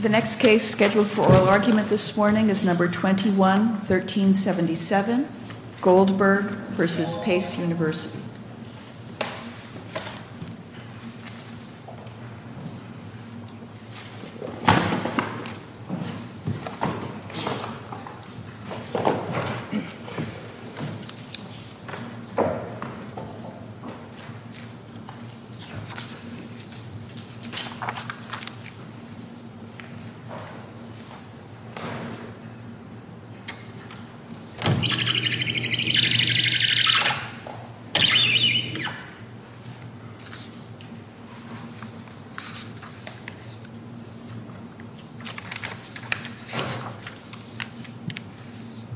The next case scheduled for oral argument this morning is number 21-1377, Goldberg v. Pace University.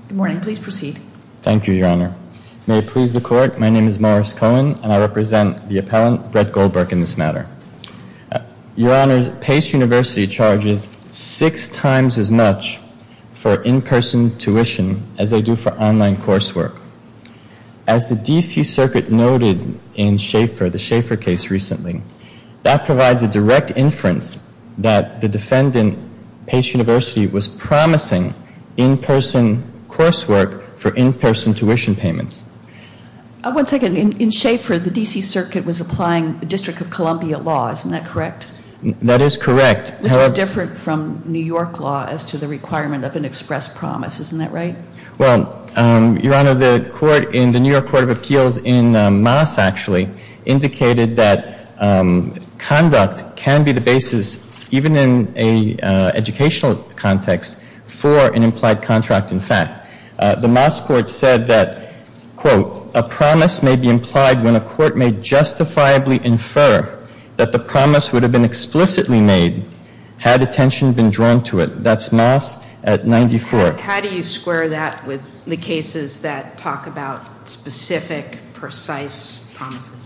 Good morning. Please proceed. Thank you, Your Honor. May it please the court, my name is Morris Cohen, and I represent the appellant, Brett Goldberg, in this matter. Your Honor, Pace University charges six times as much for in-person tuition as they do for online coursework. As the D.C. Circuit noted in Schaeffer, the Schaeffer case recently, that provides a direct inference that the defendant, Pace University, was promising in-person coursework for in-person tuition payments. One second, in Schaeffer, the D.C. Circuit was applying the District of Columbia law, isn't that correct? That is correct. Which is different from New York law as to the requirement of an express promise, isn't that right? Well, Your Honor, the court in the New York Court of Appeals in Moss, actually, indicated that conduct can be the basis, even in an educational context, for an implied contract in fact. The Moss court said that, quote, a promise may be implied when a court may justifiably infer that the promise would have been explicitly made had attention been drawn to it. That's Moss at 94. How do you square that with the cases that talk about specific, precise promises?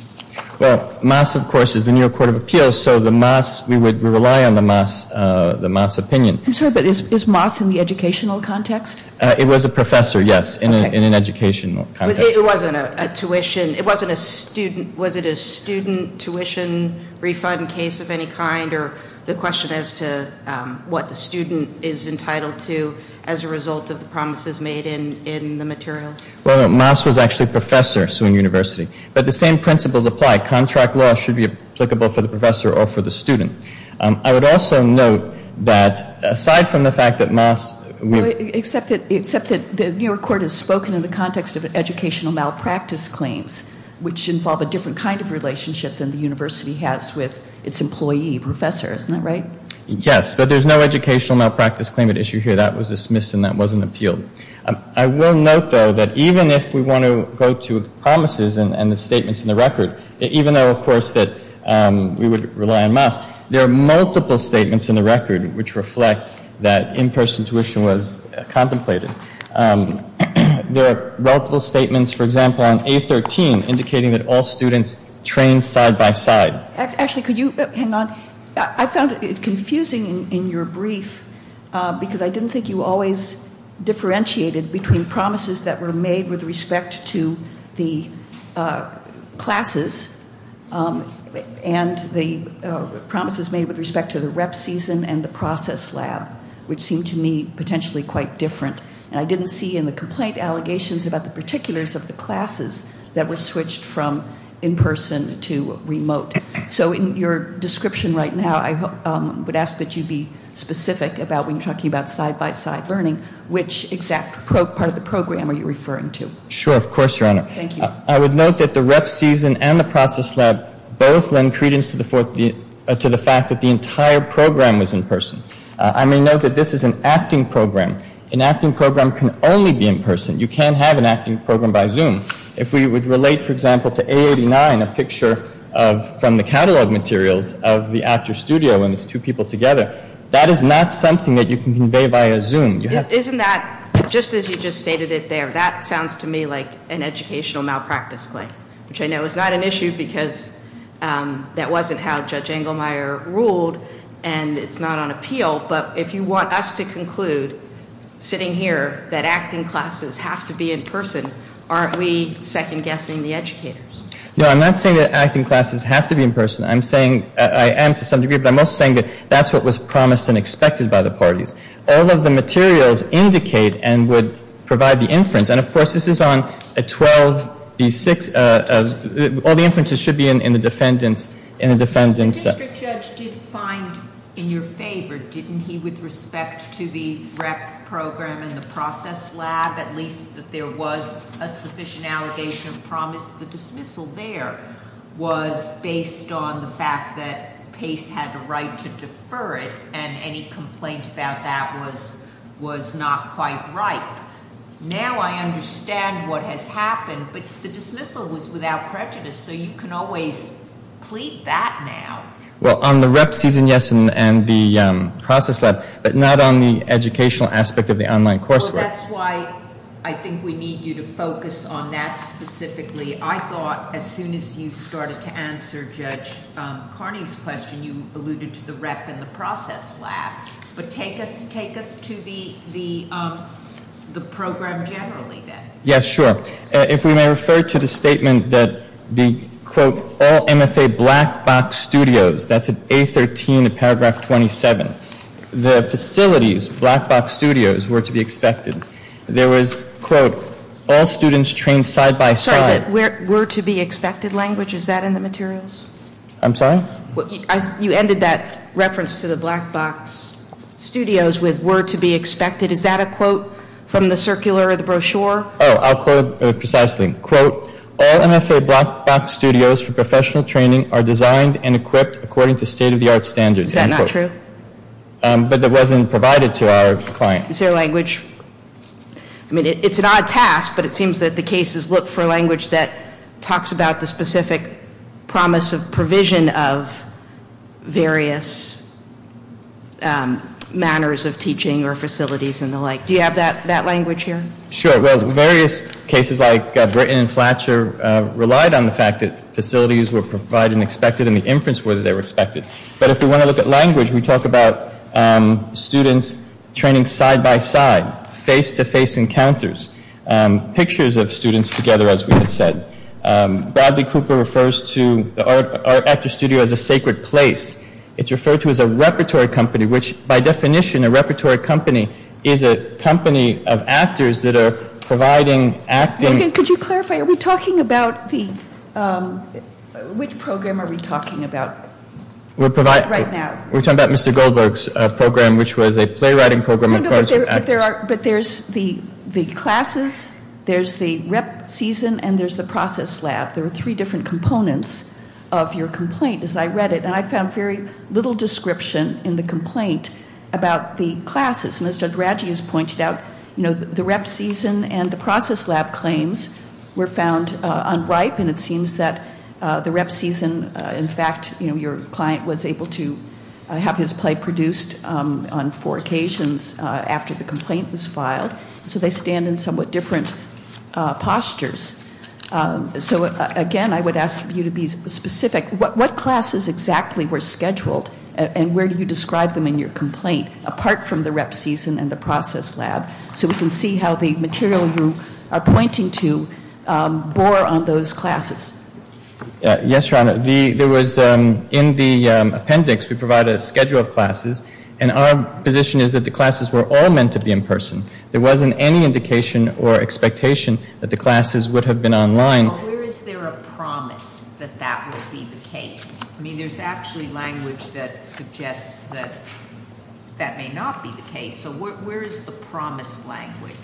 Well, Moss, of course, is the New York Court of Appeals, so the Moss, we would rely on the Moss opinion. I'm sorry, but is Moss in the educational context? It was a professor, yes, in an educational context. It wasn't a tuition, it wasn't a student, was it a student tuition refund case of any kind, or the question as to what the student is entitled to as a result of the promises made in the materials? Well, no, Moss was actually a professor, so in university, but the same principles apply. Contract law should be applicable for the professor or for the student. I would also note that, aside from the fact that Moss... Except that the New York Court has spoken in the context of educational malpractice claims, which involve a different kind of relationship than the university has with its employee professor, isn't that right? Yes, but there's no educational malpractice claim at issue here. That was dismissed and that wasn't appealed. I will note, though, that even if we want to go to promises and the statements in the record, even though, of course, that we would rely on Moss, there are multiple statements in the record which reflect that in-person tuition was contemplated. There are multiple statements, for example, on A13, indicating that all students trained side-by-side. Actually, could you hang on? I found it confusing in your brief because I didn't think you always differentiated between promises that were made with respect to the classes and the promises made with respect to the rep season and the process lab, which seemed to me potentially quite different. And I didn't see in the complaint allegations about the particulars of the classes that were switched from in-person to remote. So in your description right now, I would ask that you be specific about when you're talking about side-by-side learning, which exact part of the program are you referring to? Sure, of course, Your Honor. Thank you. I would note that the rep season and the process lab both lend credence to the fact that the entire program was in-person. I may note that this is an acting program. An acting program can only be in-person. You can't have an acting program by Zoom. If we would relate, for example, to A89, a picture from the catalog materials of the actor's studio and its two people together, that is not something that you can convey via Zoom. Isn't that, just as you just stated it there, that sounds to me like an educational malpractice claim, which I know is not an issue because that wasn't how Judge Engelmeyer ruled. And it's not on appeal. But if you want us to conclude, sitting here, that acting classes have to be in-person, aren't we second-guessing the educators? No, I'm not saying that acting classes have to be in-person. I'm saying, I am to some degree, but I'm also saying that that's what was promised and expected by the parties. All of the materials indicate and would provide the inference. And, of course, this is on 12B6. All the inferences should be in the defendant's, in the defendant's. If the district judge did find in your favor, didn't he, with respect to the rep program and the process lab, at least that there was a sufficient allegation of promise, the dismissal there was based on the fact that Pace had the right to defer it and any complaint about that was not quite right. Now I understand what has happened, but the dismissal was without prejudice, so you can always plead that now. Well, on the rep season, yes, and the process lab, but not on the educational aspect of the online coursework. Well, that's why I think we need you to focus on that specifically. I thought as soon as you started to answer Judge Carney's question, you alluded to the rep and the process lab. But take us to the program generally then. Yes, sure. If we may refer to the statement that the, quote, all MFA black box studios, that's at A13 of paragraph 27, the facilities, black box studios, were to be expected. There was, quote, all students trained side by side. Sorry, but were to be expected language, is that in the materials? I'm sorry? You ended that reference to the black box studios with were to be expected. Is that a quote from the circular or the brochure? Oh, I'll quote precisely. Quote, all MFA black box studios for professional training are designed and equipped according to state of the art standards. Is that not true? But that wasn't provided to our client. Is there language? I mean, it's an odd task, but it seems that the cases look for language that talks about the specific promise of provision of various manners of teaching or facilities and the like. Do you have that language here? Sure. Well, various cases like Britton and Fletcher relied on the fact that facilities were provided and expected and the inference were that they were expected. But if we want to look at language, we talk about students training side by side, face-to-face encounters, pictures of students together, as we had said. Bradley Cooper refers to our actor studio as a sacred place. It's referred to as a repertory company, which by definition, a repertory company is a company of actors that are providing acting. Could you clarify, are we talking about the, which program are we talking about right now? We're talking about Mr. Goldberg's program, which was a playwriting program. But there's the classes, there's the rep season, and there's the process lab. There are three different components of your complaint as I read it, and I found very little description in the complaint about the classes. And as Judge Radji has pointed out, the rep season and the process lab claims were found unripe, and it seems that the rep season, in fact, your client was able to have his play produced on four occasions after the complaint was filed. So they stand in somewhat different postures. So again, I would ask you to be specific. What classes exactly were scheduled, and where do you describe them in your complaint, apart from the rep season and the process lab, so we can see how the material you are pointing to bore on those classes? Yes, Your Honor. There was, in the appendix, we provided a schedule of classes, and our position is that the classes were all meant to be in person. There wasn't any indication or expectation that the classes would have been online. Where is there a promise that that would be the case? I mean, there's actually language that suggests that that may not be the case. So where is the promise language?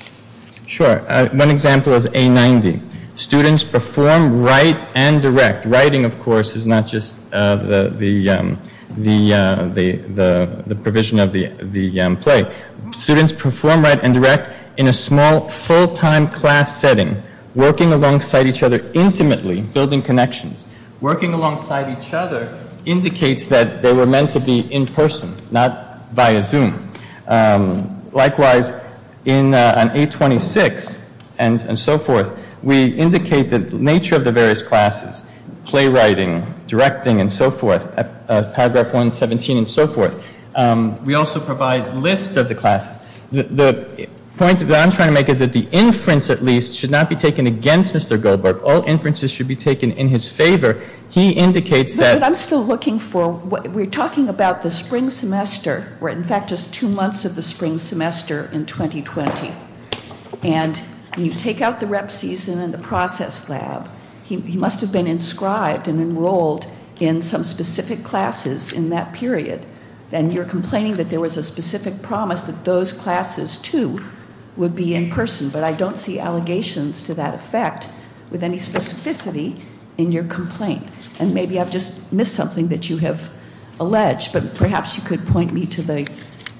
Sure. One example is A90. Students perform, write, and direct. Writing, of course, is not just the provision of the play. Students perform, write, and direct in a small, full-time class setting, working alongside each other intimately, building connections. Working alongside each other indicates that they were meant to be in person, not via Zoom. Likewise, on A26 and so forth, we indicate the nature of the various classes, playwriting, directing, and so forth, paragraph 117, and so forth. We also provide lists of the classes. The point that I'm trying to make is that the inference, at least, should not be taken against Mr. Goldberg. All inferences should be taken in his favor. He indicates that. But I'm still looking for, we're talking about the spring semester, where, in fact, just two months of the spring semester in 2020. And when you take out the rep season and the process lab, he must have been inscribed and enrolled in some specific classes in that period. And you're complaining that there was a specific promise that those classes, too, would be in person. But I don't see allegations to that effect with any specificity in your complaint. And maybe I've just missed something that you have alleged. But perhaps you could point me to the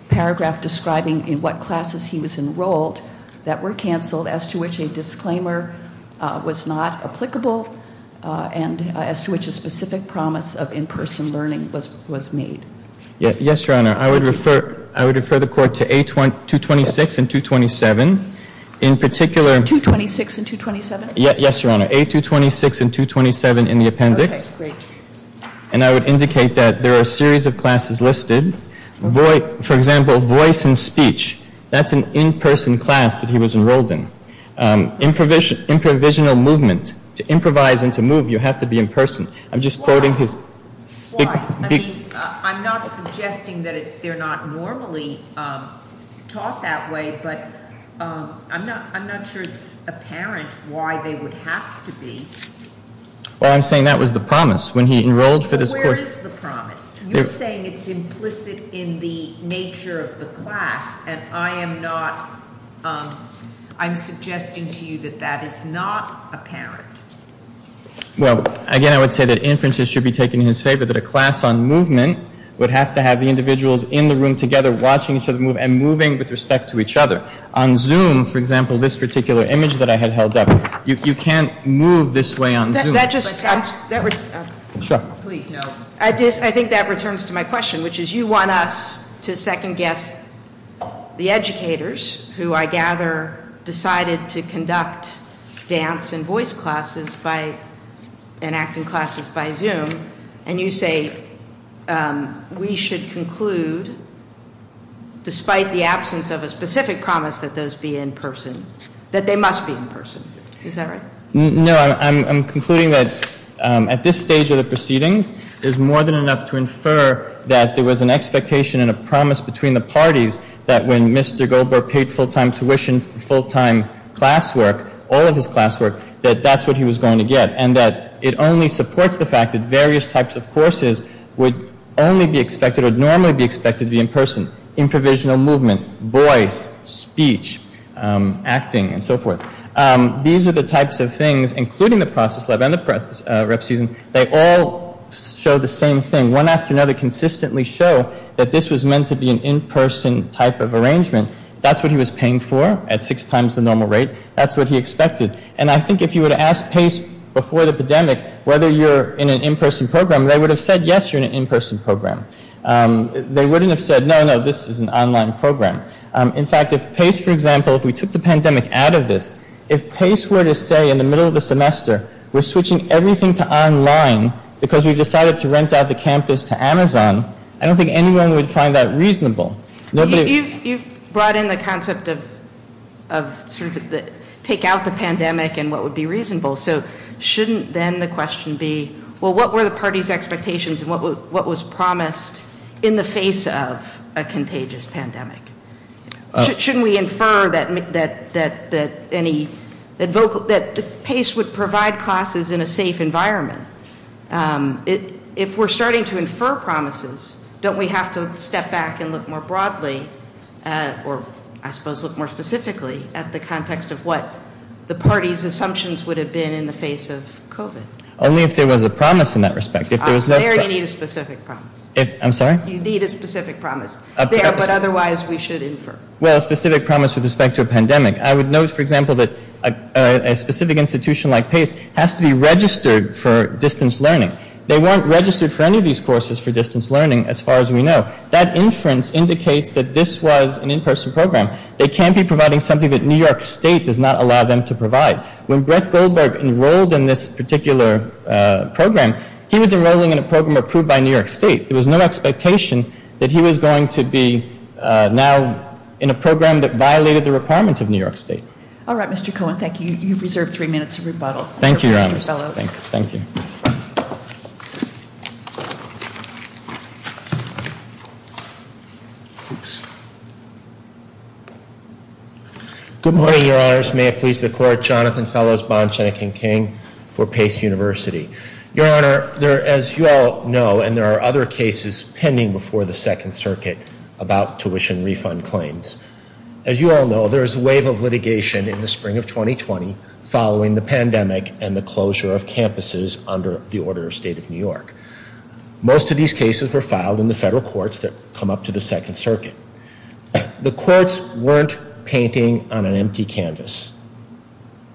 paragraph describing in what classes he was enrolled that were canceled, as to which a disclaimer was not applicable, and as to which a specific promise of in-person learning was made. Yes, Your Honor. I would refer the court to A226 and 227. In particular- 226 and 227? Yes, Your Honor. I have A226 and 227 in the appendix. Okay, great. And I would indicate that there are a series of classes listed. For example, voice and speech. That's an in-person class that he was enrolled in. Improvisional movement. To improvise and to move, you have to be in person. I'm just quoting his- I mean, I'm not suggesting that they're not normally taught that way, but I'm not sure it's apparent why they would have to be. Well, I'm saying that was the promise. When he enrolled for this course- Where is the promise? You're saying it's implicit in the nature of the class, and I am not-I'm suggesting to you that that is not apparent. Well, again, I would say that inferences should be taken in his favor. That a class on movement would have to have the individuals in the room together watching each other move and moving with respect to each other. On Zoom, for example, this particular image that I had held up, you can't move this way on Zoom. That just- Sure. I think that returns to my question, which is you want us to second-guess the educators who, I gather, decided to conduct dance and voice classes and acting classes by Zoom, and you say we should conclude, despite the absence of a specific promise that those be in person, that they must be in person. Is that right? No, I'm concluding that at this stage of the proceedings, there's more than enough to infer that there was an expectation and a promise between the parties that when Mr. Goldberg paid full-time tuition for full-time classwork, all of his classwork, that that's what he was going to get, and that it only supports the fact that various types of courses would only be expected or would normally be expected to be in person. Improvisational movement, voice, speech, acting, and so forth. These are the types of things, including the process lab and the prep season, they all show the same thing. One after another consistently show that this was meant to be an in-person type of arrangement. That's what he was paying for at six times the normal rate. That's what he expected, and I think if you were to ask PACE before the pandemic whether you're in an in-person program, they would have said, yes, you're in an in-person program. They wouldn't have said, no, no, this is an online program. In fact, if PACE, for example, if we took the pandemic out of this, if PACE were to say in the middle of the semester, we're switching everything to online because we've decided to rent out the campus to Amazon, I don't think anyone would find that reasonable. You've brought in the concept of sort of take out the pandemic and what would be reasonable, so shouldn't then the question be, well, what were the party's expectations and what was promised in the face of a contagious pandemic? Shouldn't we infer that PACE would provide classes in a safe environment? If we're starting to infer promises, don't we have to step back and look more broadly, or I suppose look more specifically at the context of what the party's assumptions would have been in the face of COVID? Only if there was a promise in that respect. There you need a specific promise. I'm sorry? You need a specific promise there, but otherwise we should infer. Well, a specific promise with respect to a pandemic. I would note, for example, that a specific institution like PACE has to be registered for distance learning. They weren't registered for any of these courses for distance learning as far as we know. That inference indicates that this was an in-person program. They can't be providing something that New York State does not allow them to provide. When Brett Goldberg enrolled in this particular program, he was enrolling in a program approved by New York State. There was no expectation that he was going to be now in a program that violated the requirements of New York State. All right, Mr. Cohen. Thank you. You've reserved three minutes of rebuttal. Thank you, Your Honors. Thank you. Good morning, Your Honors. May it please the Court. Jonathan Fellows, Bond, Shenick and King for PACE University. Your Honor, as you all know, and there are other cases pending before the Second Circuit about tuition refund claims. As you all know, there is a wave of litigation in the spring of 2020 following the pandemic and the closure of campuses under the order of State of New York. Most of these cases were filed in the federal courts that come up to the Second Circuit. The courts weren't painting on an empty canvas.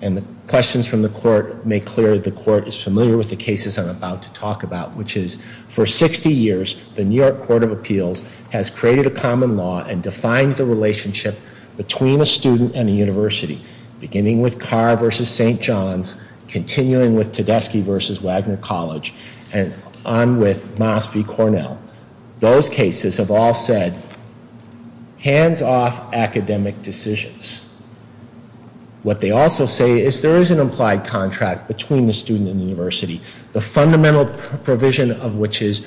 And the questions from the court make clear the court is familiar with the cases I'm about to talk about, which is, for 60 years, the New York Court of Appeals has created a common law and defined the relationship between a student and a university, beginning with Carr v. St. John's, continuing with Tedeschi v. Wagner College, and on with Moss v. Cornell. Those cases have all said, hands-off academic decisions. What they also say is there is an implied contract between the student and the university. The fundamental provision of which is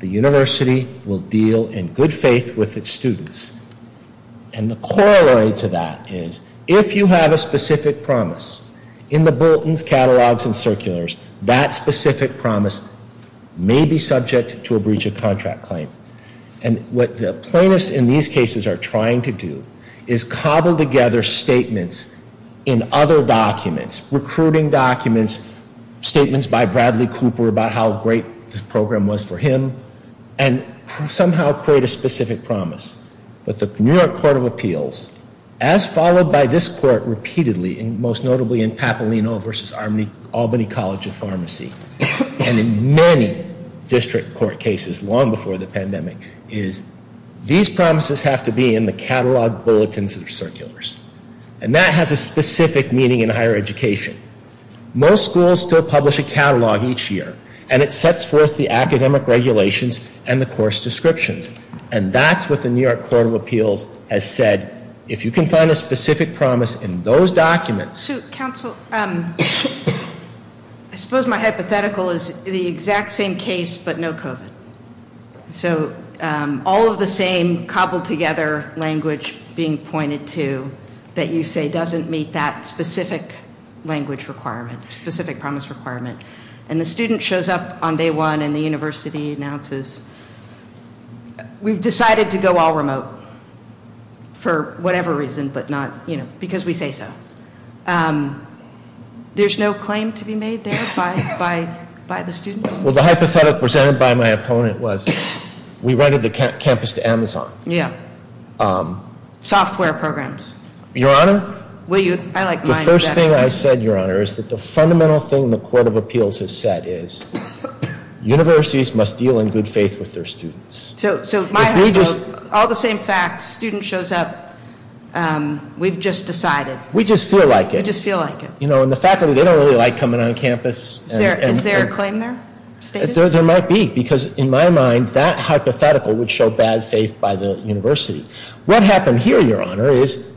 the university will deal in good faith with its students. And the corollary to that is, if you have a specific promise in the bulletins, catalogs, and circulars, that specific promise may be subject to a breach of contract claim. And what the plaintiffs in these cases are trying to do is cobble together statements in other documents, recruiting documents, statements by Bradley Cooper about how great this program was for him, and somehow create a specific promise. But the New York Court of Appeals, as followed by this court repeatedly, and most notably in Papalino v. Albany College of Pharmacy, and in many district court cases long before the pandemic, is these promises have to be in the catalog, bulletins, and circulars. And that has a specific meaning in higher education. Most schools still publish a catalog each year, and it sets forth the academic regulations and the course descriptions. And that's what the New York Court of Appeals has said. If you can find a specific promise in those documents. So, counsel, I suppose my hypothetical is the exact same case, but no COVID. So, all of the same cobbled together language being pointed to, that you say doesn't meet that specific language requirement, specific promise requirement. And the student shows up on day one, and the university announces, we've decided to go all remote for whatever reason, but not, you know, because we say so. There's no claim to be made there by the student? Well, the hypothetical presented by my opponent was, we rented the campus to Amazon. Yeah. Software programs. Your Honor, the first thing I said, Your Honor, is that the fundamental thing the Court of Appeals has said is, universities must deal in good faith with their students. So, all the same facts, student shows up, we've just decided. We just feel like it. We just feel like it. You know, and the faculty, they don't really like coming on campus. Is there a claim there? There might be, because in my mind, that hypothetical would show bad faith by the university. What happened here, Your Honor, is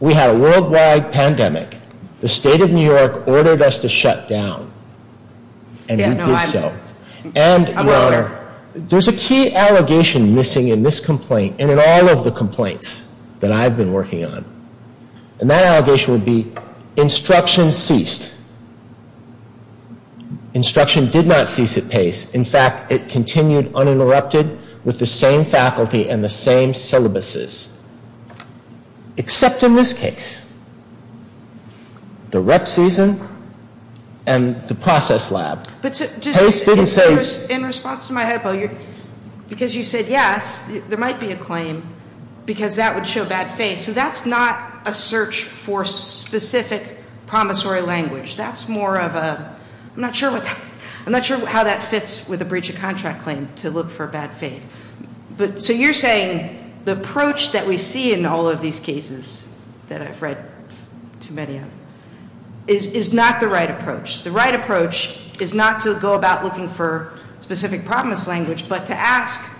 we had a worldwide pandemic. The State of New York ordered us to shut down, and we did so. And, Your Honor, there's a key allegation missing in this complaint, and in all of the complaints that I've been working on. And that allegation would be, instruction ceased. Instruction did not cease at Pace. In fact, it continued uninterrupted with the same faculty and the same syllabuses. Except in this case. The rep season and the process lab. Pace didn't say. In response to my hypo, because you said yes, there might be a claim, because that would show bad faith. So that's not a search for specific promissory language. That's more of a, I'm not sure how that fits with a breach of contract claim to look for bad faith. So you're saying the approach that we see in all of these cases that I've read too many of is not the right approach. The right approach is not to go about looking for specific promise language, but to ask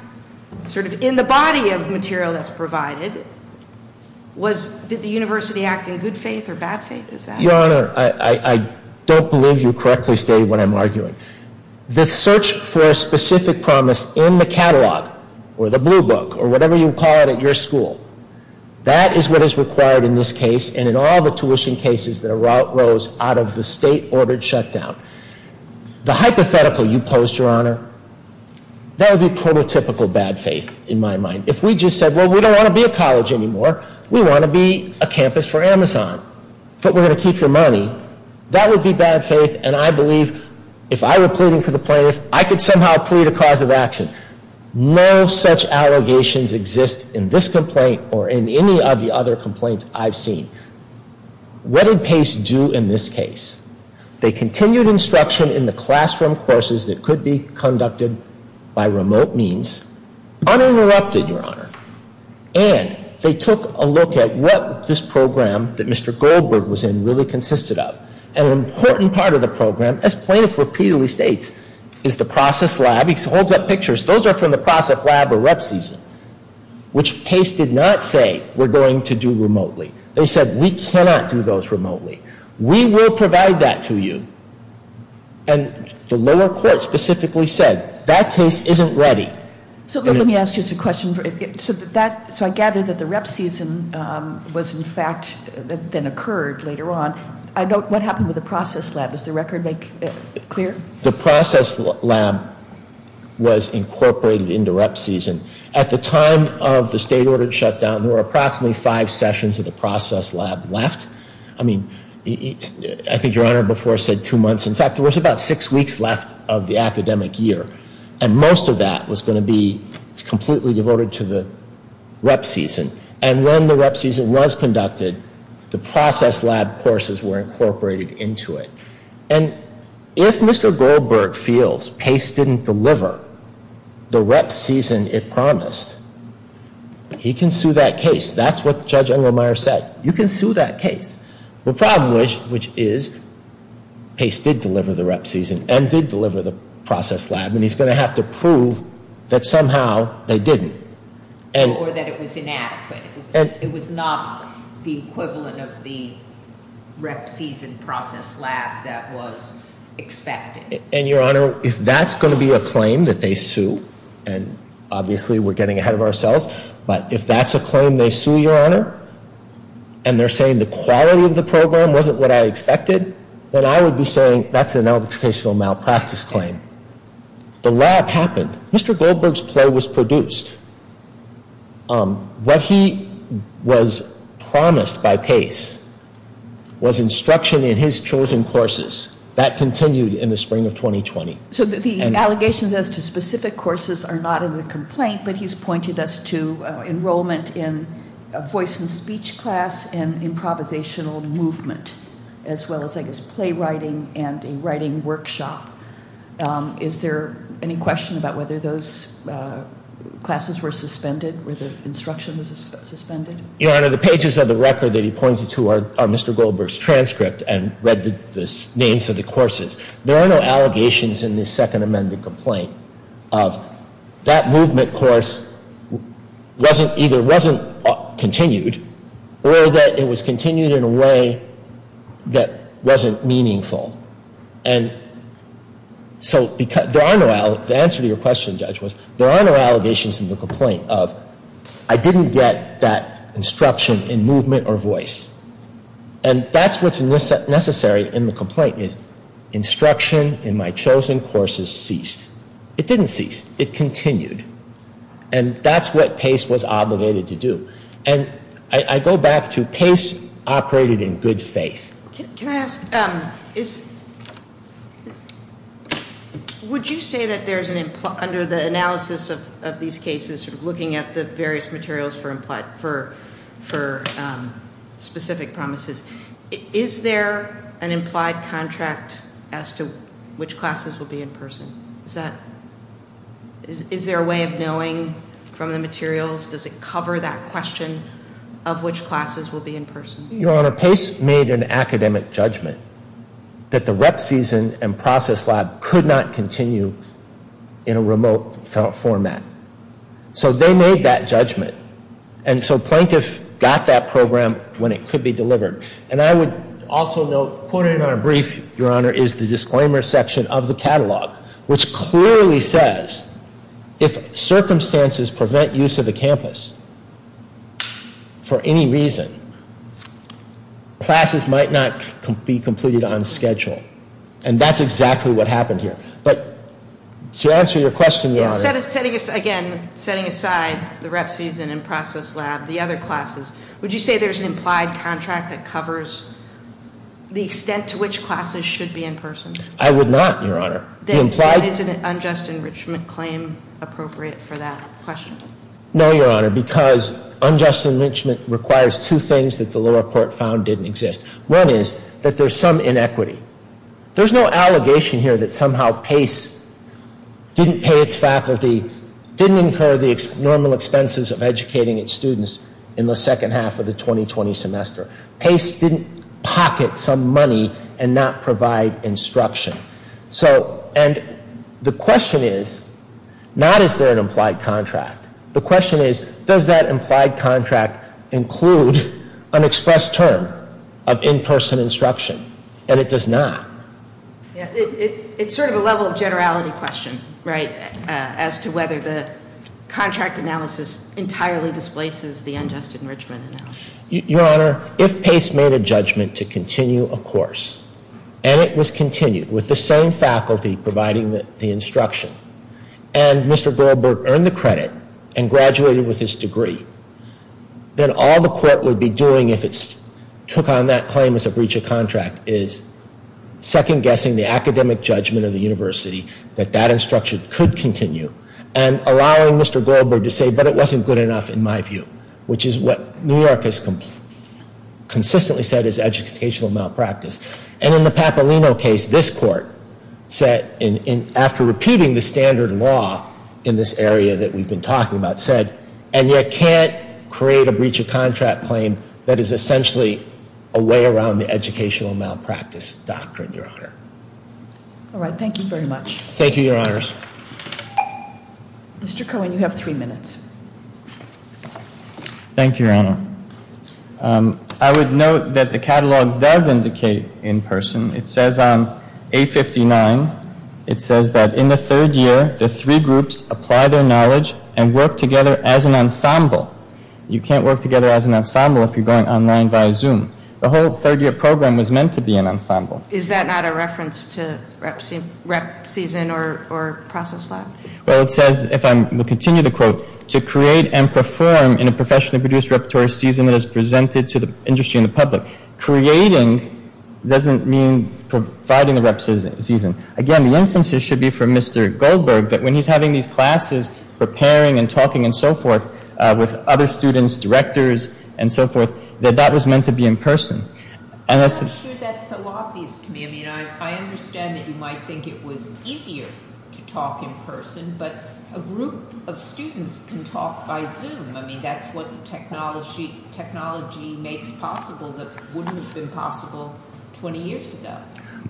sort of in the body of material that's provided. Did the university act in good faith or bad faith? Your Honor, I don't believe you correctly stated what I'm arguing. The search for specific promise in the catalog, or the blue book, or whatever you call it at your school. That is what is required in this case, and in all the tuition cases that arose out of the state-ordered shutdown. The hypothetical you posed, Your Honor, that would be prototypical bad faith in my mind. If we just said, well, we don't want to be a college anymore. We want to be a campus for Amazon, but we're going to keep your money. That would be bad faith, and I believe if I were pleading for the plaintiff, I could somehow plead a cause of action. No such allegations exist in this complaint or in any of the other complaints I've seen. What did Pace do in this case? They continued instruction in the classroom courses that could be conducted by remote means, uninterrupted, Your Honor. And they took a look at what this program that Mr. Goldberg was in really consisted of. And an important part of the program, as plaintiff repeatedly states, is the process lab. He holds up pictures. Those are from the process lab or rep season, which Pace did not say, we're going to do remotely. They said, we cannot do those remotely. We will provide that to you. And the lower court specifically said, that case isn't ready. So let me ask just a question. So I gather that the rep season was, in fact, then occurred later on. What happened with the process lab? Does the record make it clear? The process lab was incorporated into rep season. At the time of the state ordered shutdown, there were approximately five sessions of the process lab left. I mean, I think Your Honor before said two months. In fact, there was about six weeks left of the academic year. And most of that was going to be completely devoted to the rep season. And when the rep season was conducted, the process lab courses were incorporated into it. And if Mr. Goldberg feels Pace didn't deliver the rep season it promised, he can sue that case. That's what Judge Engelmeyer said. You can sue that case. The problem was, which is, Pace did deliver the rep season and did deliver the process lab. And he's going to have to prove that somehow they didn't. Or that it was inadequate. It was not the equivalent of the rep season process lab that was expected. And Your Honor, if that's going to be a claim that they sue, and obviously we're getting ahead of ourselves. But if that's a claim they sue, Your Honor, and they're saying the quality of the program wasn't what I expected, then I would be saying that's an educational malpractice claim. The lab happened. Mr. Goldberg's play was produced. What he was promised by Pace was instruction in his chosen courses. That continued in the spring of 2020. So the allegations as to specific courses are not in the complaint, but he's pointed us to enrollment in a voice and speech class and improvisational movement. As well as, I guess, play writing and a writing workshop. Is there any question about whether those classes were suspended, where the instruction was suspended? Your Honor, the pages of the record that he pointed to are Mr. Goldberg's transcript and read the names of the courses. There are no allegations in this Second Amendment complaint of that movement course either wasn't continued or that it was continued in a way that wasn't meaningful. And so the answer to your question, Judge, was there are no allegations in the complaint of I didn't get that instruction in movement or voice. And that's what's necessary in the complaint is instruction in my chosen courses ceased. It didn't cease. It continued. And that's what Pace was obligated to do. And I go back to Pace operated in good faith. Can I ask, would you say that there's an under the analysis of these cases looking at the various materials for specific promises? Is there an implied contract as to which classes will be in person? Is there a way of knowing from the materials? Does it cover that question of which classes will be in person? Your Honor, Pace made an academic judgment that the rep season and process lab could not continue in a remote format. So they made that judgment. And so plaintiff got that program when it could be delivered. And I would also note, quoted in our brief, Your Honor, is the disclaimer section of the catalog, which clearly says if circumstances prevent use of the campus for any reason, classes might not be completed on schedule. And that's exactly what happened here. But to answer your question, Your Honor. So again, setting aside the rep season and process lab, the other classes, would you say there's an implied contract that covers the extent to which classes should be in person? I would not, Your Honor. Then why isn't an unjust enrichment claim appropriate for that question? No, Your Honor, because unjust enrichment requires two things that the lower court found didn't exist. One is that there's some inequity. There's no allegation here that somehow Pace didn't pay its faculty, didn't incur the normal expenses of educating its students in the second half of the 2020 semester. Pace didn't pocket some money and not provide instruction. So, and the question is, not is there an implied contract. The question is, does that implied contract include an express term of in-person instruction? And it does not. It's sort of a level of generality question, right, as to whether the contract analysis entirely displaces the unjust enrichment analysis. Your Honor, if Pace made a judgment to continue a course, and it was continued with the same faculty providing the instruction, and Mr. Goldberg earned the credit and graduated with his degree, then all the court would be doing if it took on that claim as a breach of contract is second-guessing the academic judgment of the university that that instruction could continue and allowing Mr. Goldberg to say, but it wasn't good enough in my view, which is what New York has consistently said is educational malpractice. And in the Papalino case, this court said, after repeating the standard law in this area that we've been talking about, it said, and yet can't create a breach of contract claim that is essentially a way around the educational malpractice doctrine, Your Honor. All right, thank you very much. Thank you, Your Honors. Mr. Cohen, you have three minutes. Thank you, Your Honor. I would note that the catalog does indicate in-person. It says on A59, it says that in the third year, the three groups apply their knowledge and work together as an ensemble. You can't work together as an ensemble if you're going online via Zoom. The whole third-year program was meant to be an ensemble. Is that not a reference to rep season or process lab? Well, it says, if I continue to quote, to create and perform in a professionally produced repertory season that is presented to the industry and the public. Creating doesn't mean providing the rep season. Again, the emphasis should be for Mr. Goldberg that when he's having these classes, preparing and talking and so forth with other students, directors and so forth, that that was meant to be in person. I'm not sure that's so obvious to me. I mean, I understand that you might think it was easier to talk in person, but a group of students can talk by Zoom. I mean, that's what the technology makes possible that wouldn't have been possible 20 years ago.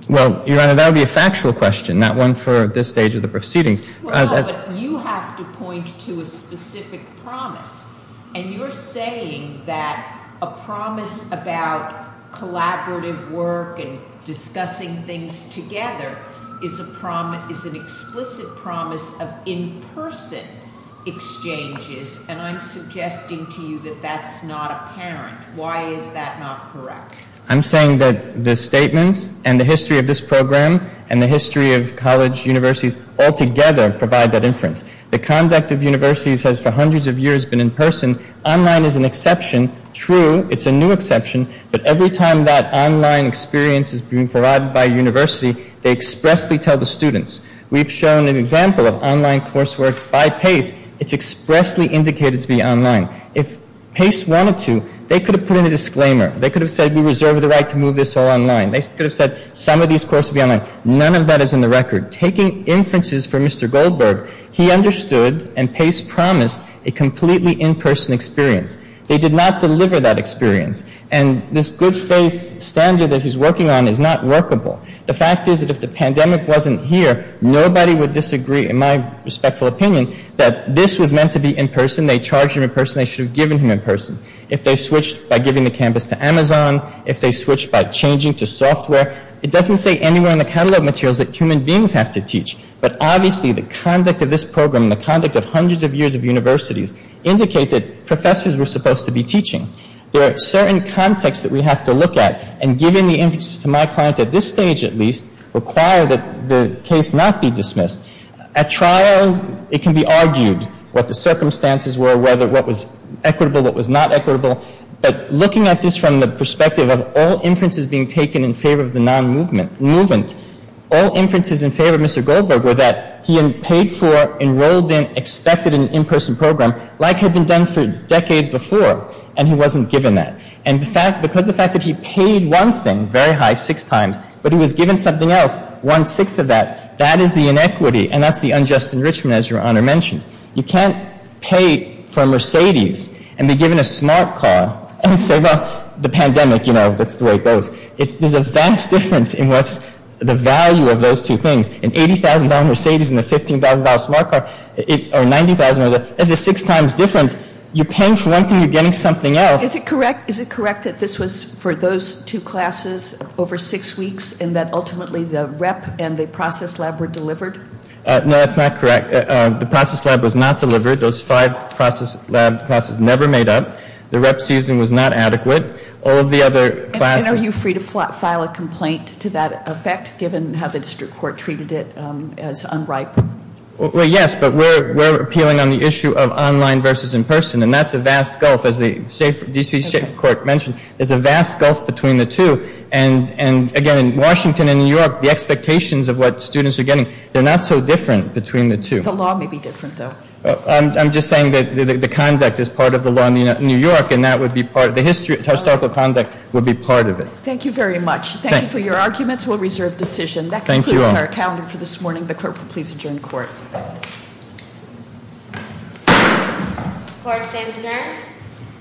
Well, Your Honor, that would be a factual question, not one for this stage of the proceedings. No, but you have to point to a specific promise, and you're saying that a promise about collaborative work and discussing things together is an explicit promise of in-person exchanges, and I'm suggesting to you that that's not apparent. Why is that not correct? I'm saying that the statements and the history of this program and the history of college universities altogether provide that inference. The conduct of universities has for hundreds of years been in person. Online is an exception. True, it's a new exception, but every time that online experience is being provided by a university, they expressly tell the students. We've shown an example of online coursework by Pace. It's expressly indicated to be online. If Pace wanted to, they could have put in a disclaimer. They could have said we reserve the right to move this all online. They could have said some of these courses will be online. None of that is in the record. Taking inferences from Mr. Goldberg, he understood and Pace promised a completely in-person experience. They did not deliver that experience, and this good faith standard that he's working on is not workable. The fact is that if the pandemic wasn't here, nobody would disagree, in my respectful opinion, that this was meant to be in person. They charged him in person. They should have given him in person. If they switched by giving the campus to Amazon, if they switched by changing to software, it doesn't say anywhere in the catalogue materials that human beings have to teach, but obviously the conduct of this program and the conduct of hundreds of years of universities indicate that professors were supposed to be teaching. There are certain contexts that we have to look at, and giving the inferences to my client at this stage at least require that the case not be dismissed. At trial, it can be argued what the circumstances were, what was equitable, what was not equitable, but looking at this from the perspective of all inferences being taken in favor of the non-movement, all inferences in favor of Mr. Goldberg were that he had paid for, enrolled in, expected an in-person program like had been done for decades before, and he wasn't given that. And because of the fact that he paid one thing, very high, six times, but he was given something else, one-sixth of that, that is the inequity, and that's the unjust enrichment, as Your Honor mentioned. You can't pay for a Mercedes and be given a smart car and say, well, the pandemic, you know, that's the way it goes. There's a vast difference in what's the value of those two things. An $80,000 Mercedes and a $15,000 smart car, or $90,000, that's a six times difference. You're paying for one thing, you're getting something else. Is it correct that this was for those two classes over six weeks, and that ultimately the rep and the process lab were delivered? No, that's not correct. The process lab was not delivered. Those five process lab classes never made up. The rep season was not adequate. All of the other classes- And are you free to file a complaint to that effect, given how the district court treated it as unripe? Well, yes, but we're appealing on the issue of online versus in-person, and that's a vast gulf. As the D.C. State Court mentioned, there's a vast gulf between the two. Again, in Washington and New York, the expectations of what students are getting, they're not so different between the two. The law may be different, though. I'm just saying that the conduct is part of the law in New York, and the historical conduct would be part of it. Thank you very much. Thank you for your arguments. We'll reserve decision. Thank you all. That concludes our calendar for this morning. The clerk will please adjourn court. Court is adjourned.